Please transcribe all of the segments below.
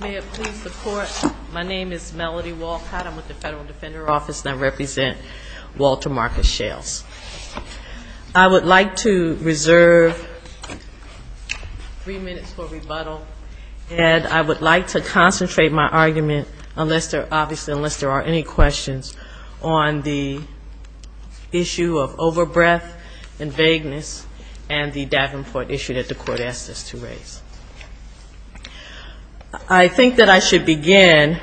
May it please the Court, my name is Melody Walcott, I'm with the Federal Defender Office and I represent Walter Marcus Schales. I would like to reserve three minutes for rebuttal and I would like to concentrate my argument, obviously unless there are any questions, on the issue of over-breath and I think that I should begin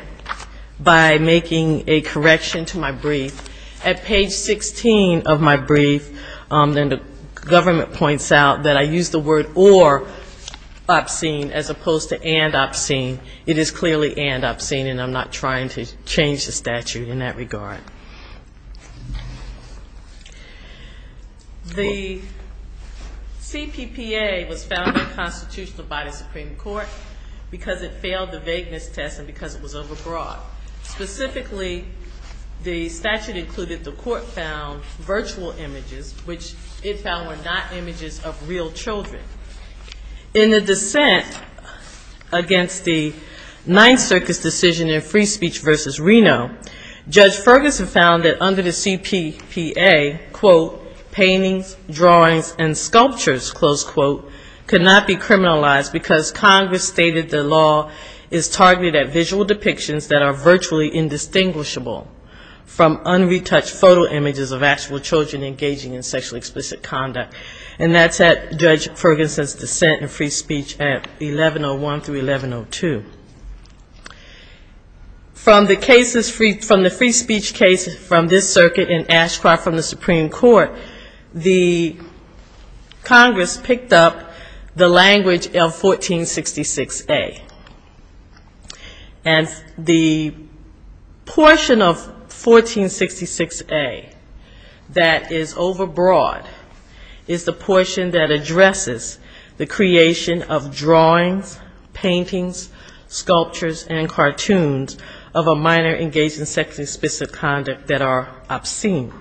by making a correction to my brief. At page 16 of my brief, the government points out that I use the word or obscene as opposed to and obscene. It is clearly and obscene and I'm not trying to change the statute in that regard. The CPPA was found unconstitutional by the Supreme Court because it failed the vagueness test and because it was over-broad. Specifically, the statute included the court found virtual images which it found were not images of real children. In the dissent against the Ninth Amendment, Ferguson found that under the CPPA, quote, paintings, drawings and sculptures, close quote, could not be criminalized because Congress stated the law is targeted at visual depictions that are virtually indistinguishable from unretouched photo images of actual children engaging in sexually explicit conduct. And that's at Judge Ferguson's dissent in free speech at 1101 through 1102. From the cases, from the free speech cases from this circuit in Ashcroft from the Supreme Court, the Congress picked up the language of 1466A. And the portion of 1466A that is and cartoons of a minor engaged in sexually explicit conduct that are obscene.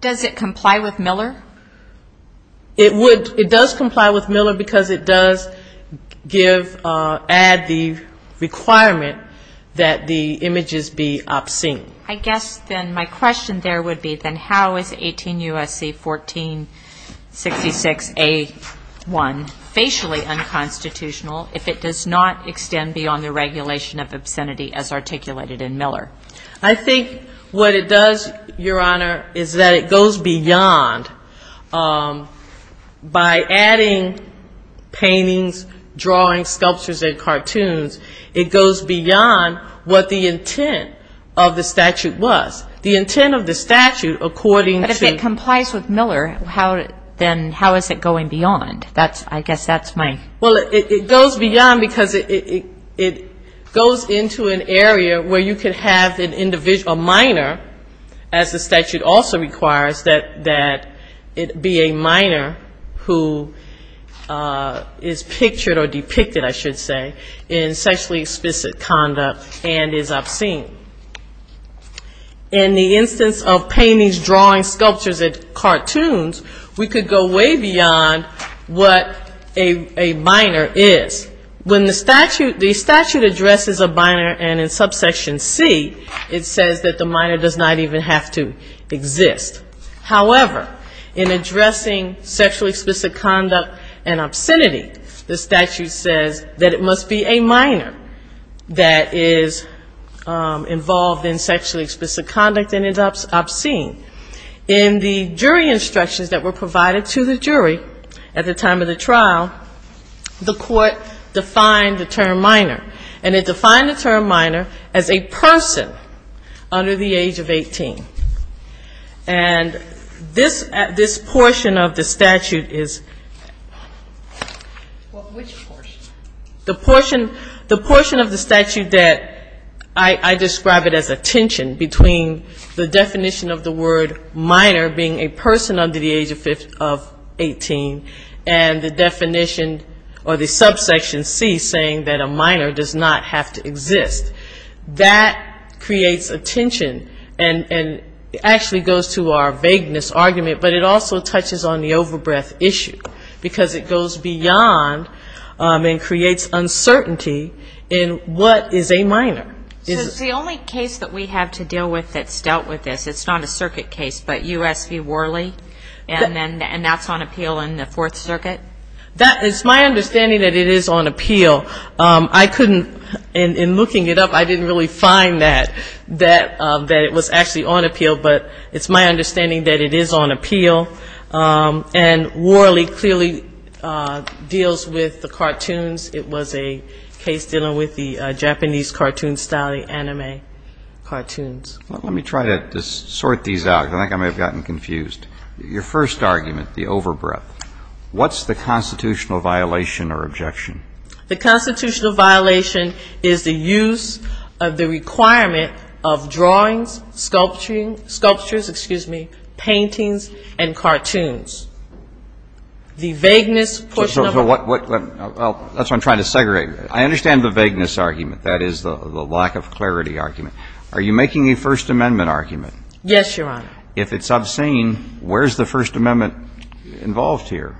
Does it comply with Miller? It would. It does comply with Miller because it does give, add the requirement that the images be obscene. I guess then my question there would be then how is 18 U.S.C. 1466A.1 facially unconstitutional if it does not extend beyond the regulation of obscenity as articulated in Miller? I think what it does, Your Honor, is that it goes beyond by adding paintings, drawings, sculptures and cartoons, it goes beyond what the intent of the statute was. The intent of the statute according to But if it complies with Miller, then how is it going beyond? I guess that's my Well, it goes beyond because it goes into an area where you could have a minor, as the I should say, in sexually explicit conduct and is obscene. In the instance of paintings, drawings, sculptures and cartoons, we could go way beyond what a minor is. When the statute addresses a minor and in subsection C, it says that the minor does not even have to that it must be a minor that is involved in sexually explicit conduct and is obscene. In the jury instructions that were provided to the jury at the time of the trial, the court defined the term minor. And it defined the term minor as a person under the age of 18. And this portion of the statute is Which portion? The portion of the statute that I describe it as a tension between the definition of the word minor being a person under the age of 18 and the definition or the subsection C saying that a minor does not have to exist. That creates a tension and actually goes to our vagueness argument, but it also touches on the overbreath issue, because it goes beyond and creates uncertainty in what is a minor. So it's the only case that we have to deal with that's dealt with this. It's not a circuit case, but U.S. v. Worley, and that's on appeal in the Fourth Circuit? That is my understanding that it is on appeal. I couldn't, in looking it up, I didn't really find that, that it was actually on appeal, but it's my understanding that it is on appeal. And Worley clearly deals with the cartoons. It was a case dealing with the Japanese cartoon style, the anime cartoons. Let me try to sort these out, because I think I may have gotten confused. Your first argument, the overbreath, what's the constitutional violation or objection? The constitutional violation is the use of the requirement of drawings, sculptures, excuse me, paintings, and cartoons. The vagueness portion of the ---- Well, that's what I'm trying to segregate. I understand the vagueness argument. That is the lack of clarity argument. Are you making a First Amendment argument? Yes, Your Honor. If it's obscene, where's the First Amendment involved here?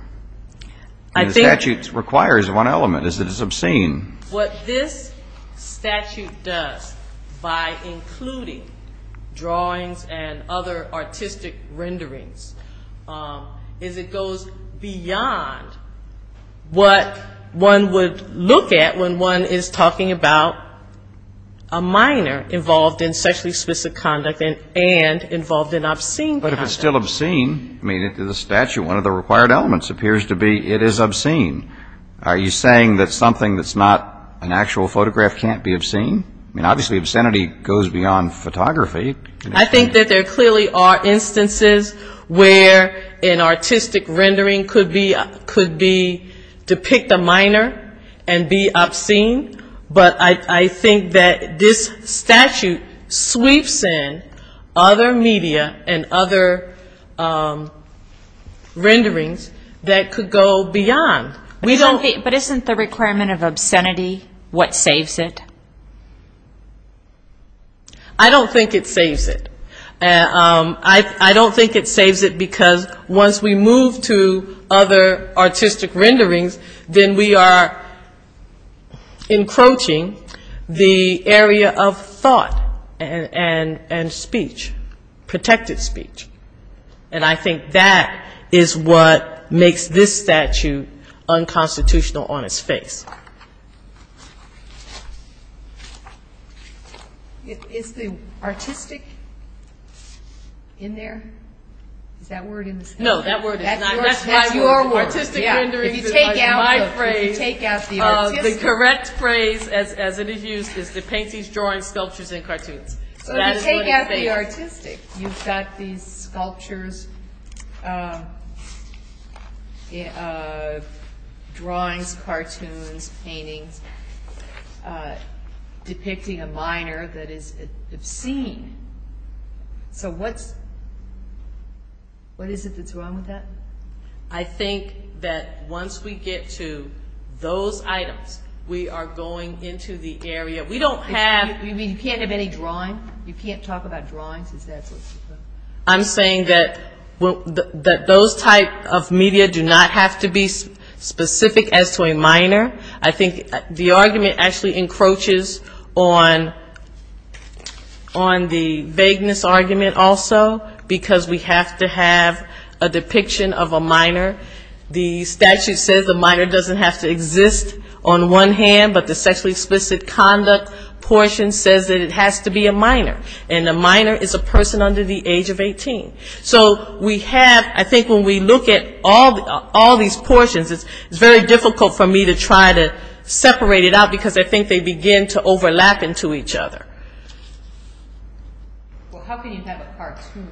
I think ---- It requires one element, is it is obscene. What this statute does, by including drawings and other artistic renderings, is it goes beyond what one would look at when one is talking about a minor involved in sexually explicit conduct and involved in obscene conduct. But if it's still obscene, I mean, in the statute, one of the required elements appears to be it is obscene. Are you saying that something that's not an actual photograph can't be obscene? I mean, obviously, obscenity goes beyond photography. I think that there clearly are instances where an artistic rendering could be depict a minor and be obscene, but I think that this statute sweeps in other media and other renderings that could go beyond. But isn't the requirement of obscenity what saves it? I don't think it saves it. I don't think it saves it because once we move to other artistic renderings, then we are encroaching the area of thought and speech, protected speech. And I think that is what makes this statute unconstitutional on its face. Is the artistic in there? Is that word in the statute? No, that word is not in the statute. That's your word. Artistic renderings is my phrase. If you take out the artistic. The correct phrase, as it is used, is the paintings, drawings, sculptures, and cartoons. So if you take out the artistic, you've got these sculptures, drawings, cartoons, paintings, depicting a minor that is obscene. So what is it that's wrong with that? I think that once we get to those items, we are going into the area. You mean you can't have any drawing? You can't talk about drawings? I'm saying that those type of media do not have to be specific as to a minor. I think the argument actually encroaches on the vagueness argument also, because we have to have a depiction of a minor. The statute says a minor doesn't have to exist on one hand, but the sexually explicit conduct portion says that it has to be a minor, and a minor is a person under the age of 18. So we have, I think when we look at all these portions, it's very difficult for me to try to separate it out, because I think they begin to overlap into each other. Well, how can you have a cartoon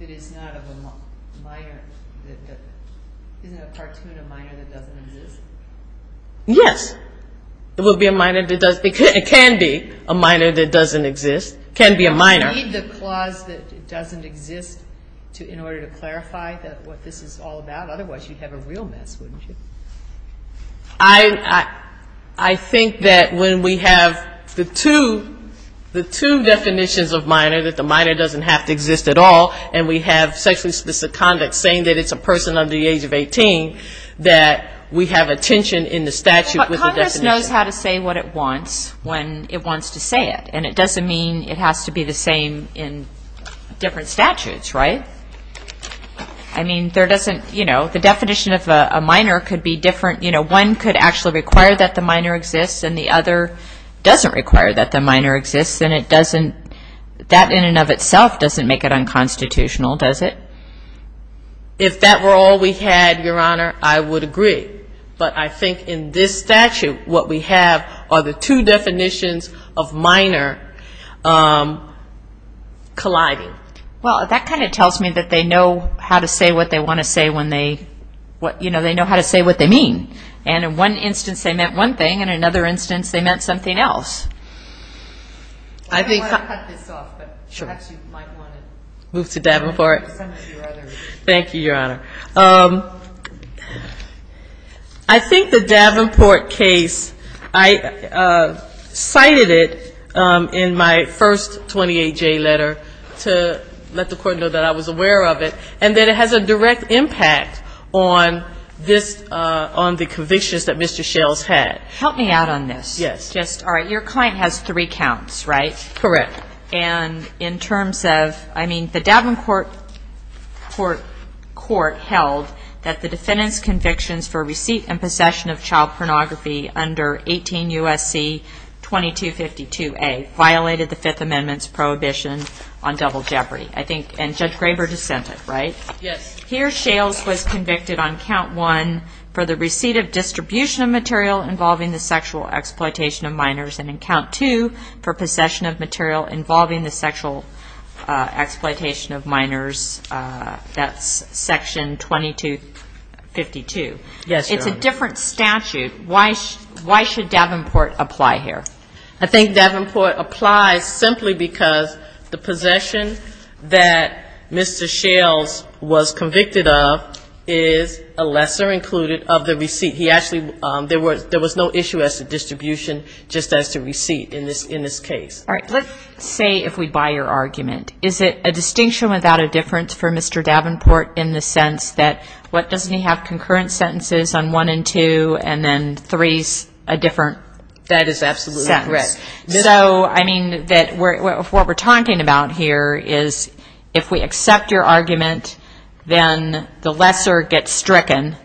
that is not of a minor? Isn't a cartoon a minor that doesn't exist? Yes, it can be a minor that doesn't exist. Do you need the clause that it doesn't exist in order to clarify what this is all about? Otherwise you'd have a real mess, wouldn't you? I think that when we have the two definitions of minor, that the minor doesn't have to exist at all, and we have sexually explicit conduct saying that it's a person under the age of 18, that we have a tension in the statute with the definition. But Congress knows how to say what it wants when it wants to say it, and it doesn't mean it has to be the same in different statutes, right? I mean, there doesn't, you know, the definition of a minor could be different. You know, one could actually require that the minor exists, and the other doesn't require that the minor exists, and it doesn't, that in and of itself doesn't make it unconstitutional, does it? If that were all we had, Your Honor, I would agree. But I think in this statute what we have are the two definitions of minor colliding. Well, that kind of tells me that they know how to say what they want to say when they, you know, they know how to say what they mean. And in one instance they meant one thing, and in another instance they meant something else. I don't want to cut this off, but perhaps you might want to move to Davenport. Thank you, Your Honor. I think the Davenport case, I cited it in my first 28-J letter to let the Court know that I was aware of it, and that it has a direct impact on this, on the convictions that Mr. Schell's had. Help me out on this. Yes. Just, all right, your client has three counts, right? Correct. And in terms of, I mean, the Davenport Court held that the defendant's convictions for receipt and possession of child pornography under 18 U.S.C. 2252A violated the Fifth Amendment's prohibition on double jeopardy. I think, and Judge Graber dissented, right? Yes. Here, Schell's was convicted on count one for the receipt of distribution of material involving the sexual exploitation of minors, and on count two for possession of material involving the sexual exploitation of minors. That's section 2252. Yes, Your Honor. It's a different statute. Why should Davenport apply here? I think Davenport applies simply because the possession that Mr. Schell's was convicted of is a lesser included of the receipt. He actually, there was no issue as to distribution, just as to receipt in this case. All right. Let's say if we buy your argument. Is it a distinction without a difference for Mr. Davenport in the sense that, what, doesn't he have concurrent sentences on one and two, and then three's a different sentence? That is absolutely correct. So, I mean, what we're talking about here is if we accept your argument, then the lesser gets stricken,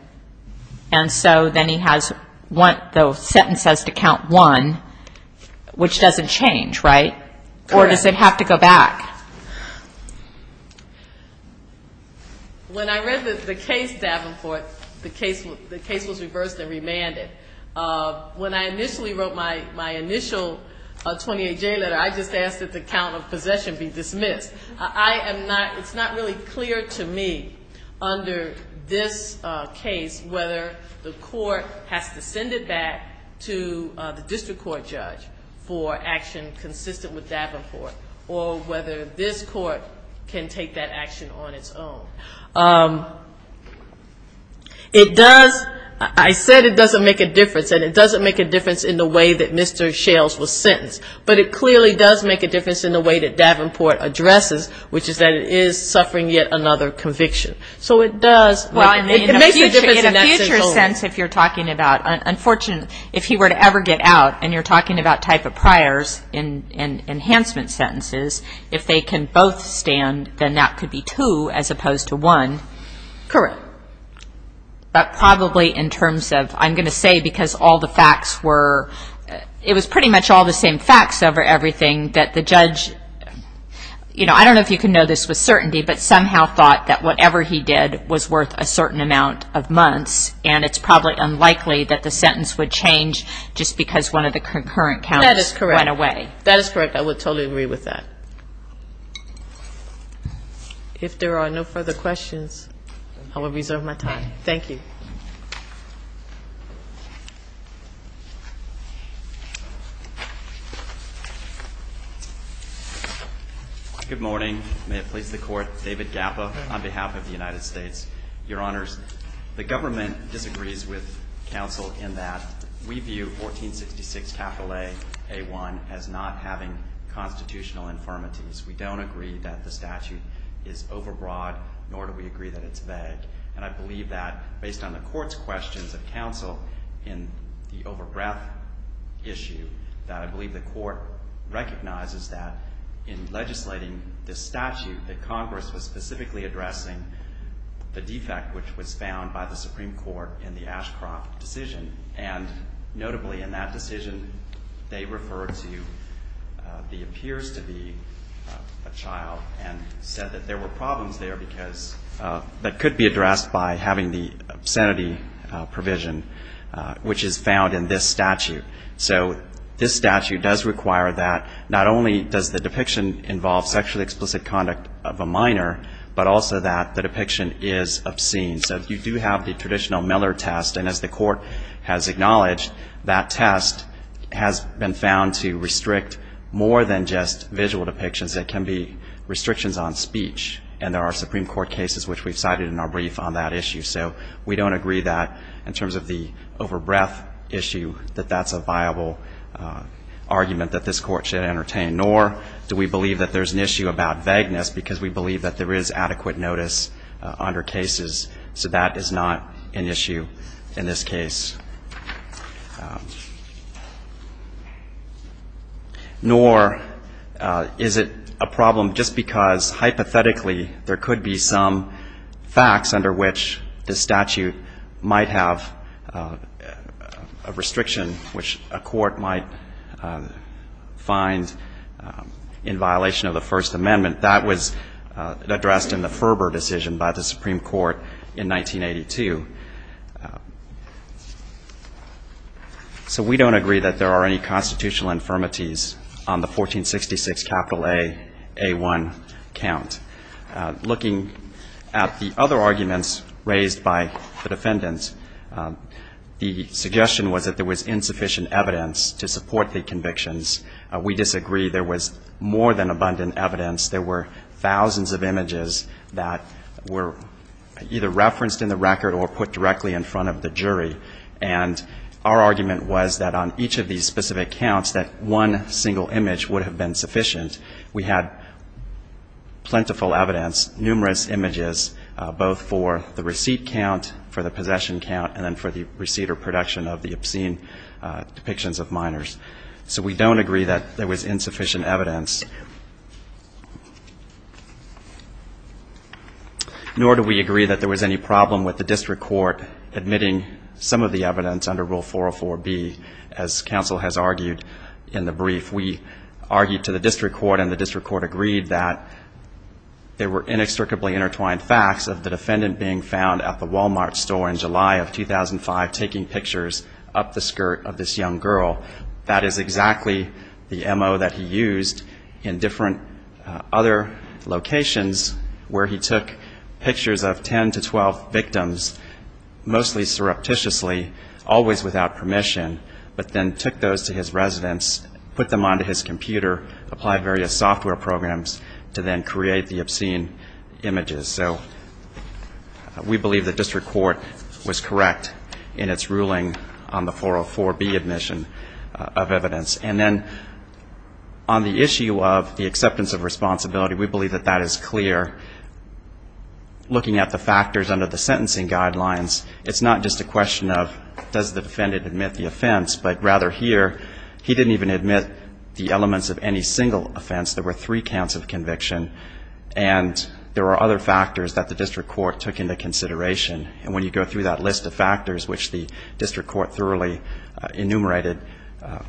and so then he has the sentence as to count one, which doesn't change, right? Correct. Or does it have to go back? When I read the case, Davenport, the case was reversed and remanded. When I initially wrote my initial 28J letter, I just asked that the count of possession be dismissed. I am not, it's not really clear to me, under this case, whether the court has to send it back to the district court judge for action consistent with Davenport, or whether this court can take that action on its own. It does, I said it doesn't make a difference, and it doesn't make a difference in the way that Mr. Schell's was sentenced, but it clearly does make a difference in the way that Davenport addresses, which is that it is suffering yet another conviction. So it does, it makes a difference. In a future sense, if you're talking about, unfortunately, if he were to ever get out, and you're talking about type of priors and enhancement sentences, if they can both stand, then that could be two as opposed to one. Correct. But probably in terms of, I'm going to say because all the facts were, it was pretty much all the same facts over everything that the judge, I don't know if you can know this with certainty, but somehow thought that whatever he did was worth a certain amount of months, and it's probably unlikely that the sentence would change just because one of the concurrent counts went away. That is correct. I would totally agree with that. If there are no further questions, I will reserve my time. Thank you. Good morning. May it please the Court. David Gappa on behalf of the United States. Your Honors, the government disagrees with counsel in that we view 1466 capital A, A1, as not having constitutional infirmities. We don't agree that the statute is overbroad, nor do we agree that it's vague. And I believe that based on the Court's questions of counsel in the overbreadth issue, that I believe the Court recognizes that in legislating this statute, that Congress was specifically addressing the defect which was found by the Supreme Court in the Ashcroft decision. And notably in that decision, they referred to the appears to be a child and said that there were problems there because that could be addressed by having the obscenity provision, which is found in this statute. So this statute does require that not only does the depiction involve sexually explicit conduct of a minor, but also that the depiction is obscene. So you do have the traditional Miller test. And as the Court has acknowledged, that test has been found to restrict more than just visual depictions. It can be restrictions on speech. And there are Supreme Court cases which we've cited in our brief on that issue. So we don't agree that in terms of the overbreadth issue, that that's a viable argument that this Court should entertain, nor do we believe that there's an issue about vagueness because we believe that there is adequate notice under cases. So that is not an issue in this case. Nor is it a problem just because hypothetically there could be some facts under which the statute might have a restriction which a court might find in violation of the First Amendment. That was addressed in the Ferber decision by the Supreme Court in 1982. So we don't agree that there are any constitutional infirmities on the 1466 capital A, A1 count. Looking at the other arguments raised by the defendants, the suggestion was that there was insufficient evidence to support the convictions. We disagree there was more than abundant evidence. There were thousands of images that were either referenced in the record or put directly in front of the jury. And our argument was that on each of these specific counts that one single image would have been sufficient. We had plentiful evidence, numerous images, both for the receipt count, for the possession count, and then for the receipt or production of the obscene depictions of minors. So we don't agree that there was insufficient evidence. Nor do we agree that there was any problem with the district court admitting some of the evidence under Rule 404B. As counsel has argued in the brief, we argued to the district court and the district court agreed that there were inextricably intertwined facts of the defendant being found at the Walmart store in July of 2005, taking pictures up the skirt of this young girl. That is exactly the MO that he used in different other locations, where he took pictures of 10 to 12 victims, mostly surreptitiously, always without permission, but then took those to his residence, put them onto his computer, applied various software programs to then create the obscene images. So we believe the district court was correct in its ruling on the 404B admission of evidence. And then on the issue of the acceptance of responsibility, we believe that that is clear. Looking at the factors under the sentencing guidelines, it's not just a question of does the defendant admit the offense, but rather here, he didn't even admit the elements of any single offense. There were three counts of conviction, and there were other factors that the district court took into consideration. And when you go through that list of factors, which the district court thoroughly enumerated,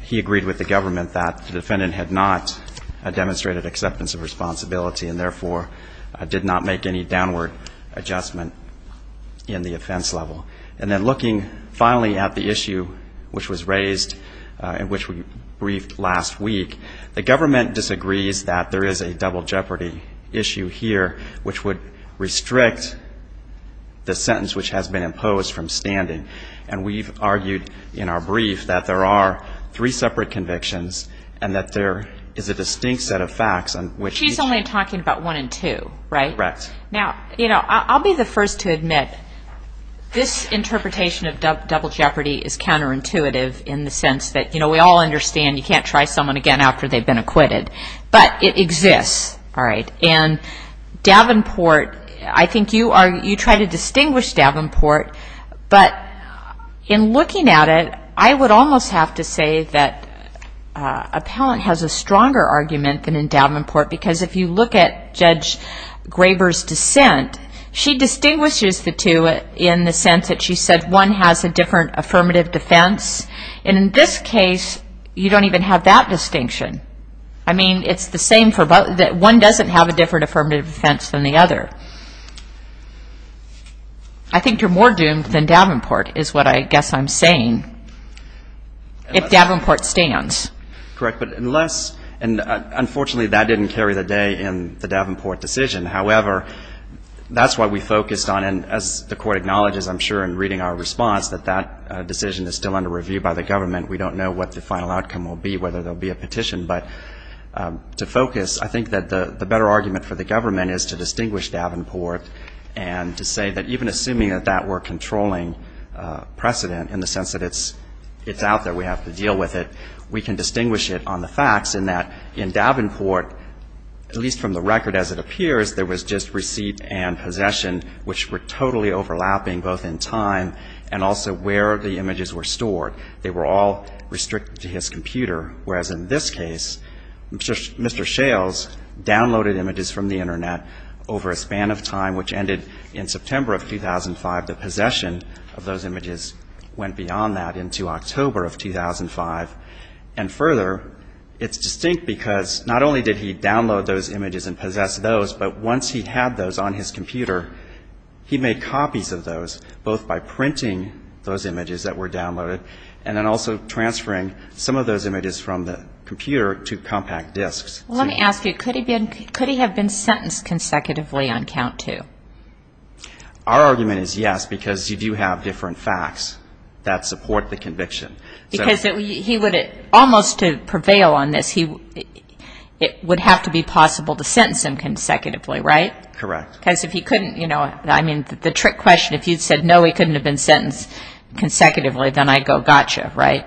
he agreed with the government that the defendant had not demonstrated acceptance of responsibility and therefore did not make any downward adjustment in the offense level. And then looking finally at the issue which was raised and which we briefed last week, the government disagrees that there is a double jeopardy issue here, which would restrict the sentence which has been imposed from standing. And we've argued in our brief that there are three separate convictions and that there is a distinct set of facts. She's only talking about one and two, right? Now, you know, I'll be the first to admit this interpretation of double jeopardy is counterintuitive in the sense that we all understand you can't try someone again after they've been acquitted. But it exists, all right? And Davenport, I think you try to distinguish Davenport, but in looking at it, I would almost have to say that Appellant has a stronger argument than in Davenport, because if you look at Judge Graber's dissent, she distinguishes the two in the sense that she said one has a different affirmative defense. And in this case, you don't even have that distinction. I mean, it's the same for both, that one doesn't have a different affirmative defense than the other. I think you're more doomed than Davenport is what I guess I'm saying, if Davenport stands. Correct, but unless, and unfortunately, that didn't carry the day in the Davenport decision. However, that's what we focused on. And as the Court acknowledges, I'm sure, in reading our response, that that decision is still under review by the government. We don't know what the final outcome will be, whether there will be a petition. But to focus, I think that the better argument for the government is to distinguish Davenport and to say that even assuming that that were a controlling precedent in the sense that it's out there, we have to deal with it, we can distinguish it on the facts in that in Davenport, at least from the record as it appears, there was just receipt and possession, which were totally overlapping both in time and also where the images were stored. They were all restricted to his computer, whereas in this case, Mr. Shales downloaded images from the Internet over a span of time, which ended in September of 2005. The possession of those images went beyond that into October of 2005. And further, it's distinct because not only did he download those images and possess those, but once he had those on his computer, he made copies of those, both by printing those images that were downloaded and then also transferring some of those images from the computer to compact disks. Let me ask you, could he have been sentenced consecutively on count two? Our argument is yes, because you do have different facts that support the conviction. Because he would almost prevail on this, it would have to be possible to sentence him consecutively, right? Correct. Because if he couldn't, you know, I mean, the trick question, if you said no, he couldn't have been sentenced consecutively, then I'd go gotcha, right?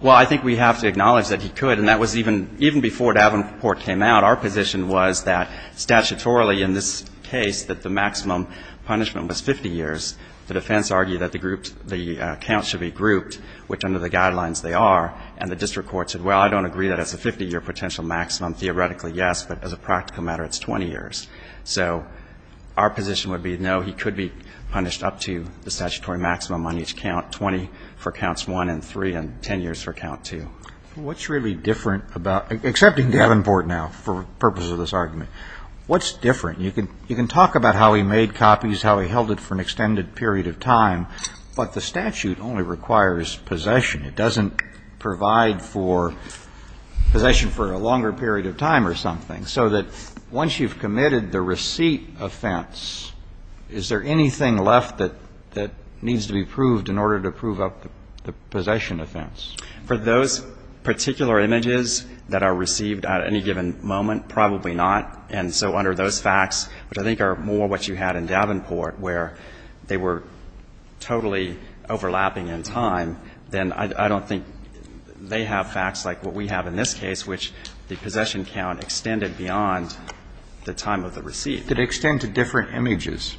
Well, I think we have to acknowledge that he could, and that was even before Davenport came out, our position was that statutorily in this case that the maximum punishment was 50 years. The defense argued that the count should be grouped, which under the guidelines they are, and the district court said, well, I don't agree that it's a 50-year potential maximum. Theoretically, yes, but as a practical matter, it's 20 years. So our position would be, no, he could be punished up to the statutory maximum on each count, 20 for counts one and three and 10 years for count two. What's really different about, excepting Davenport now for the purpose of this argument, what's different? You can talk about how he made copies, how he held it for an extended period of time, but the statute only requires possession. It doesn't provide for possession for a longer period of time or something. So that once you've committed the receipt offense, is there anything left that needs to be proved in order to prove up the possession offense? For those particular images that are received at any given moment, probably not. And so under those facts, which I think are more what you had in Davenport, where they were totally overlapping in time, then I don't think they have facts like what we have in this case, which the possession count extended beyond the time of the receipt. Could it extend to different images?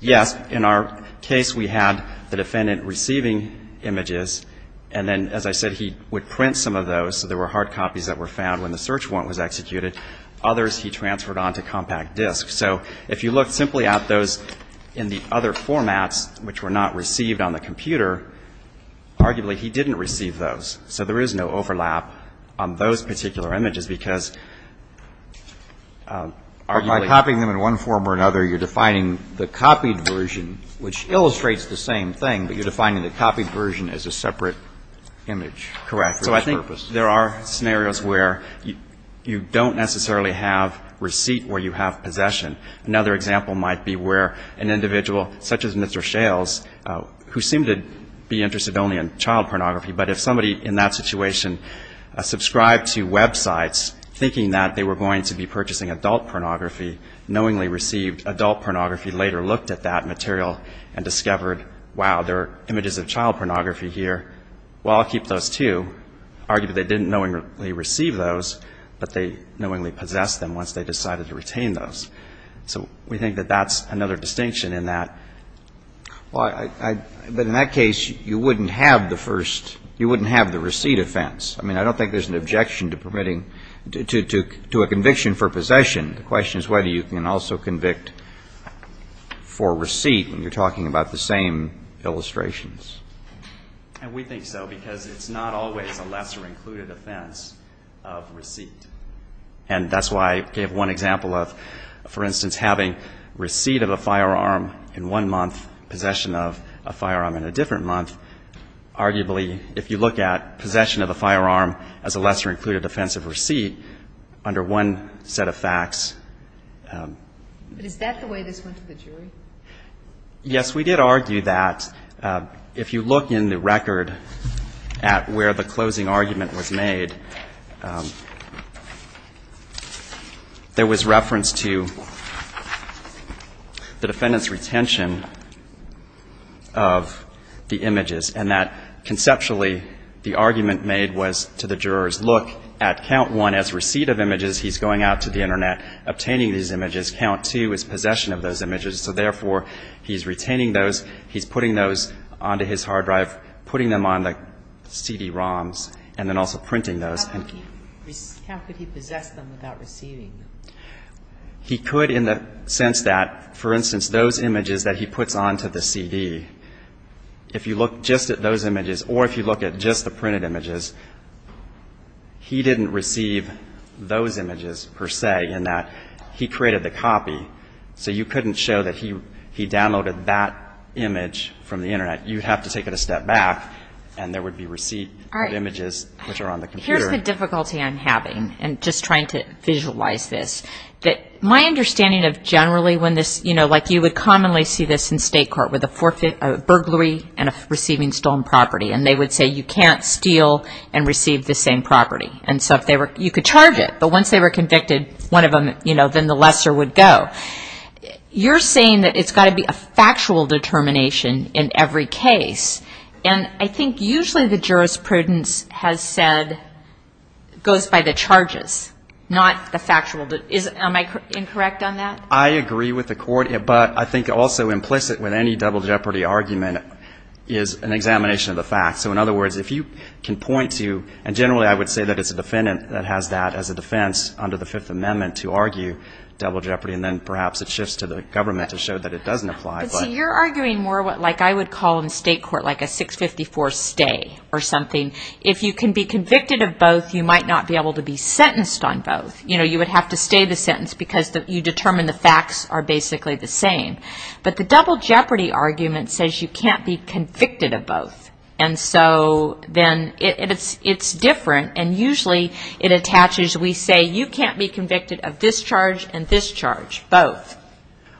Yes. In our case, we had the defendant receiving images, and then, as I said, he would print some of those, so there were hard copies that were found when the search warrant was executed. Others he transferred on to compact disk. So if you look simply at those in the other formats, which were not received on the computer, arguably he didn't receive those. So there is no overlap on those particular images, because arguably by copying them in one form or another, you're defining the copied version, which illustrates the same thing, but you're defining the copied version as a separate image. Correct. So I think there are scenarios where you don't necessarily have receipt where you have possession. Another example might be where an individual such as Mr. Shales, who seemed to be interested only in child pornography, but if somebody in that situation subscribed to websites, thinking that they were going to be purchasing adult pornography, knowingly received adult pornography, later looked at that material and discovered, wow, there are images of child pornography here. Well, I'll keep those, too. Arguably they didn't knowingly receive those, but they knowingly possessed them once they decided to retain those. So we think that that's another distinction in that. But in that case, you wouldn't have the first, you wouldn't have the receipt offense. I mean, I don't think there's an objection to permitting, to a conviction for possession. The question is whether you can also convict for receipt when you're talking about the same illustrations. And we think so, because it's not always a lesser included offense of receipt. And that's why I gave one example of, for instance, having receipt of a firearm in one month, possession of a firearm in a different month. Arguably, if you look at possession of a firearm as a lesser included offense of receipt under one set of facts. But is that the way this went to the jury? Yes, we did argue that. If you look in the record at where the closing argument was made, there was reference to the defendant's retention of the images. And that conceptually, the argument made was to the jurors, look, at count one as receipt of images, he's going out to the Internet, obtaining these images. Count two is possession of those images. So therefore, he's retaining those, he's putting those onto his hard drive, putting them on the CD-ROMs, and then also printing those. How could he possess them without receiving them? He could in the sense that, for instance, those images that he puts onto the CD, if you look just at those images or if you look at just the printed images, he didn't receive those images per se in that he created the copy. So you couldn't show that he downloaded that image from the Internet. You'd have to take it a step back, and there would be receipt of images which are on the computer. But here's the difficulty I'm having, and just trying to visualize this, that my understanding of generally when this, you know, like you would commonly see this in state court with a forfeit, a burglary, and a receiving stolen property, and they would say you can't steal and receive the same property. And so you could charge it, but once they were convicted, one of them, you know, then the lesser would go. You're saying that it's got to be a factual determination in every case, and I think usually the jurisprudence has said goes by the charges, not the factual. Am I incorrect on that? I agree with the court, but I think also implicit with any double jeopardy argument is an examination of the facts. So in other words, if you can point to, and generally I would say that it's a defendant that has that as a defense under the Fifth Amendment to argue double jeopardy, and then perhaps it shifts to the government to show that it doesn't apply. But see, you're arguing more like I would call in state court like a 654 stay or something. If you can be convicted of both, you might not be able to be sentenced on both. You know, you would have to stay the sentence because you determine the facts are basically the same. But the double jeopardy argument says you can't be convicted of both, and so then it's different, and usually it attaches. We say you can't be convicted of this charge and this charge, both.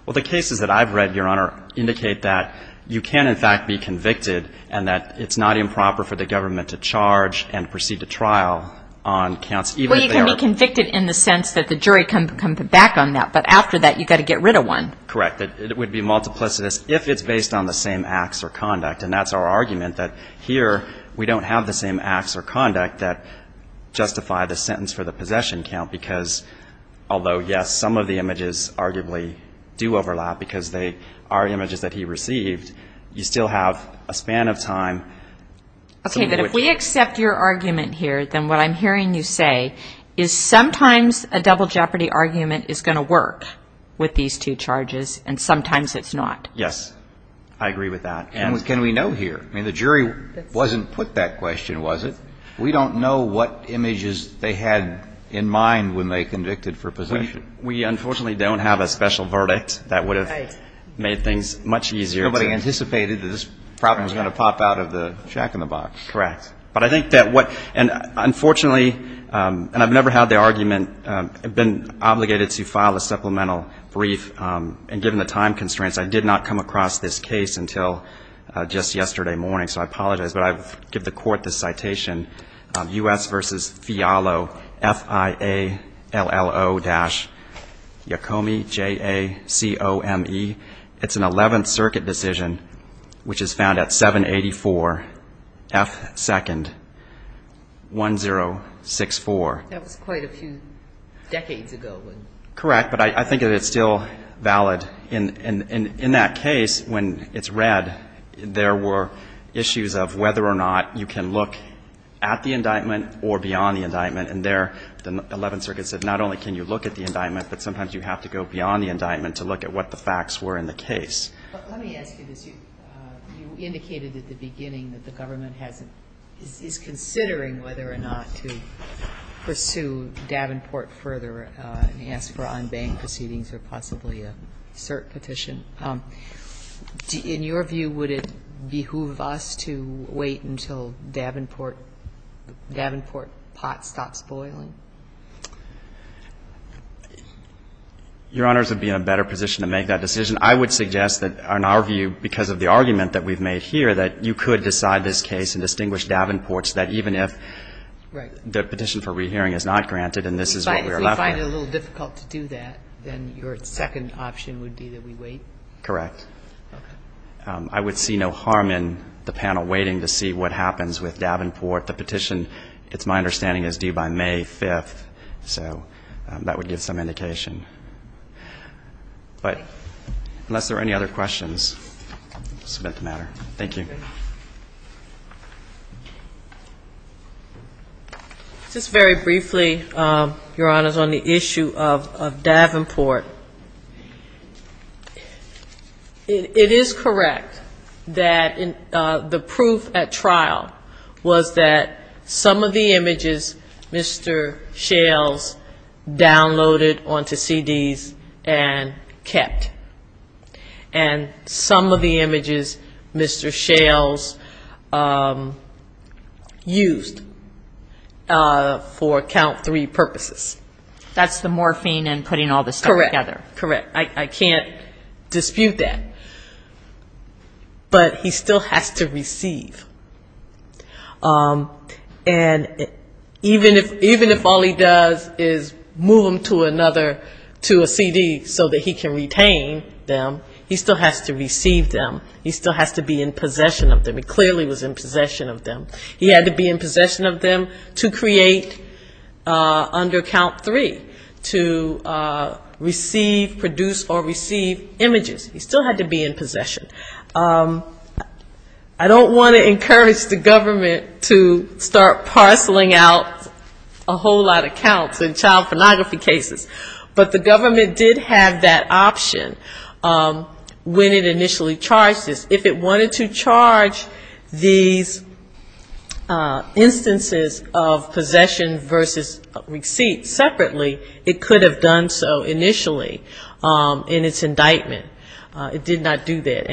Well, the cases that I've read, Your Honor, indicate that you can, in fact, be convicted and that it's not improper for the government to charge and proceed to trial on counts even if they are. Well, you can be convicted in the sense that the jury can come back on that. But after that, you've got to get rid of one. Correct. It would be multiplicitous if it's based on the same acts or conduct. And that's our argument, that here we don't have the same acts or conduct that justify the sentence for the possession count because, although, yes, some of the images arguably do overlap because they are images that he received, you still have a span of time. Okay. But if we accept your argument here, then what I'm hearing you say is sometimes a double jeopardy argument is going to work with these two charges, and sometimes it's not. Yes. I agree with that. And what can we know here? I mean, the jury wasn't put that question, was it? We don't know what images they had in mind when they convicted for possession. We unfortunately don't have a special verdict that would have made things much easier to... Nobody anticipated that this problem was going to pop out of the shack in the box. Correct. But I think that what — and unfortunately, and I've never had the argument, I've been obligated to file a supplemental brief, and given the time constraints, I did not come across this case until just yesterday morning, so I apologize. But I give the Court this citation, U.S. v. Fialo, F-I-A-L-L-O dash Yacomi, J-A-C-O-M-E. It's an 11th Circuit decision, which is found at 784 F. 2nd, 1064. That was quite a few decades ago, wasn't it? Correct, but I think that it's still valid. And in that case, when it's read, there were issues of whether or not you can look at the indictment or beyond the indictment. And there, the 11th Circuit said not only can you look at the indictment, but sometimes you have to go beyond the indictment to look at what the facts were in the case. But let me ask you this. You indicated at the beginning that the government has — is considering whether or not to pursue Davenport further and ask for unbanged proceedings or possibly a cert petition. In your view, would it behoove us to wait until Davenport — Davenport pot stops boiling? Your Honors would be in a better position to make that decision. I would suggest that, in our view, because of the argument that we've made here, that you could decide this case and distinguish Davenport so that even if the petition for rehearing is not granted and this is what we are left with. If you find it a little difficult to do that, then your second option would be that we wait? Correct. Okay. I would see no harm in the panel waiting to see what happens with Davenport. The petition, it's my understanding, is due by May 5th. So that would give some indication. But unless there are any other questions, I'll submit the matter. Thank you. Just very briefly, Your Honors, on the issue of Davenport. It is correct that the proof at trial was that some of the images Mr. Shales downloaded onto CDs and kept. And some of the images Mr. Shales used for count three purposes. That's the morphine and putting all this stuff together. Correct. Correct. I can't dispute that. But he still has to receive. And even if all he does is move them to another, to a CD so that he can retain them, he still has to receive them. He still has to be in possession of them. He clearly was in possession of them. He had to be in possession of them to create under count three, to receive, produce or receive images. He still had to be in possession. I don't want to encourage the government to start parceling out a whole lot of counts in child pornography cases. But the government did have that option when it initially charged this. If it wanted to charge these instances of possession versus receipt separately, it could have done so initially in its indictment. It did not do that.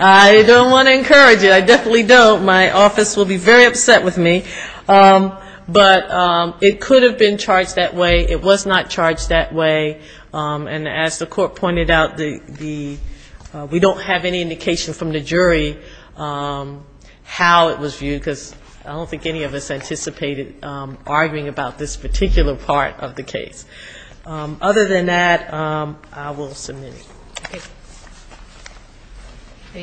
I don't want to encourage it. I definitely don't. My office will be very upset with me. But it could have been charged that way. It was not charged that way. And as the court pointed out, we don't have any indication from the jury how it was viewed, because I don't think any of us anticipated arguing about this particular part of the case. Other than that, I will submit it.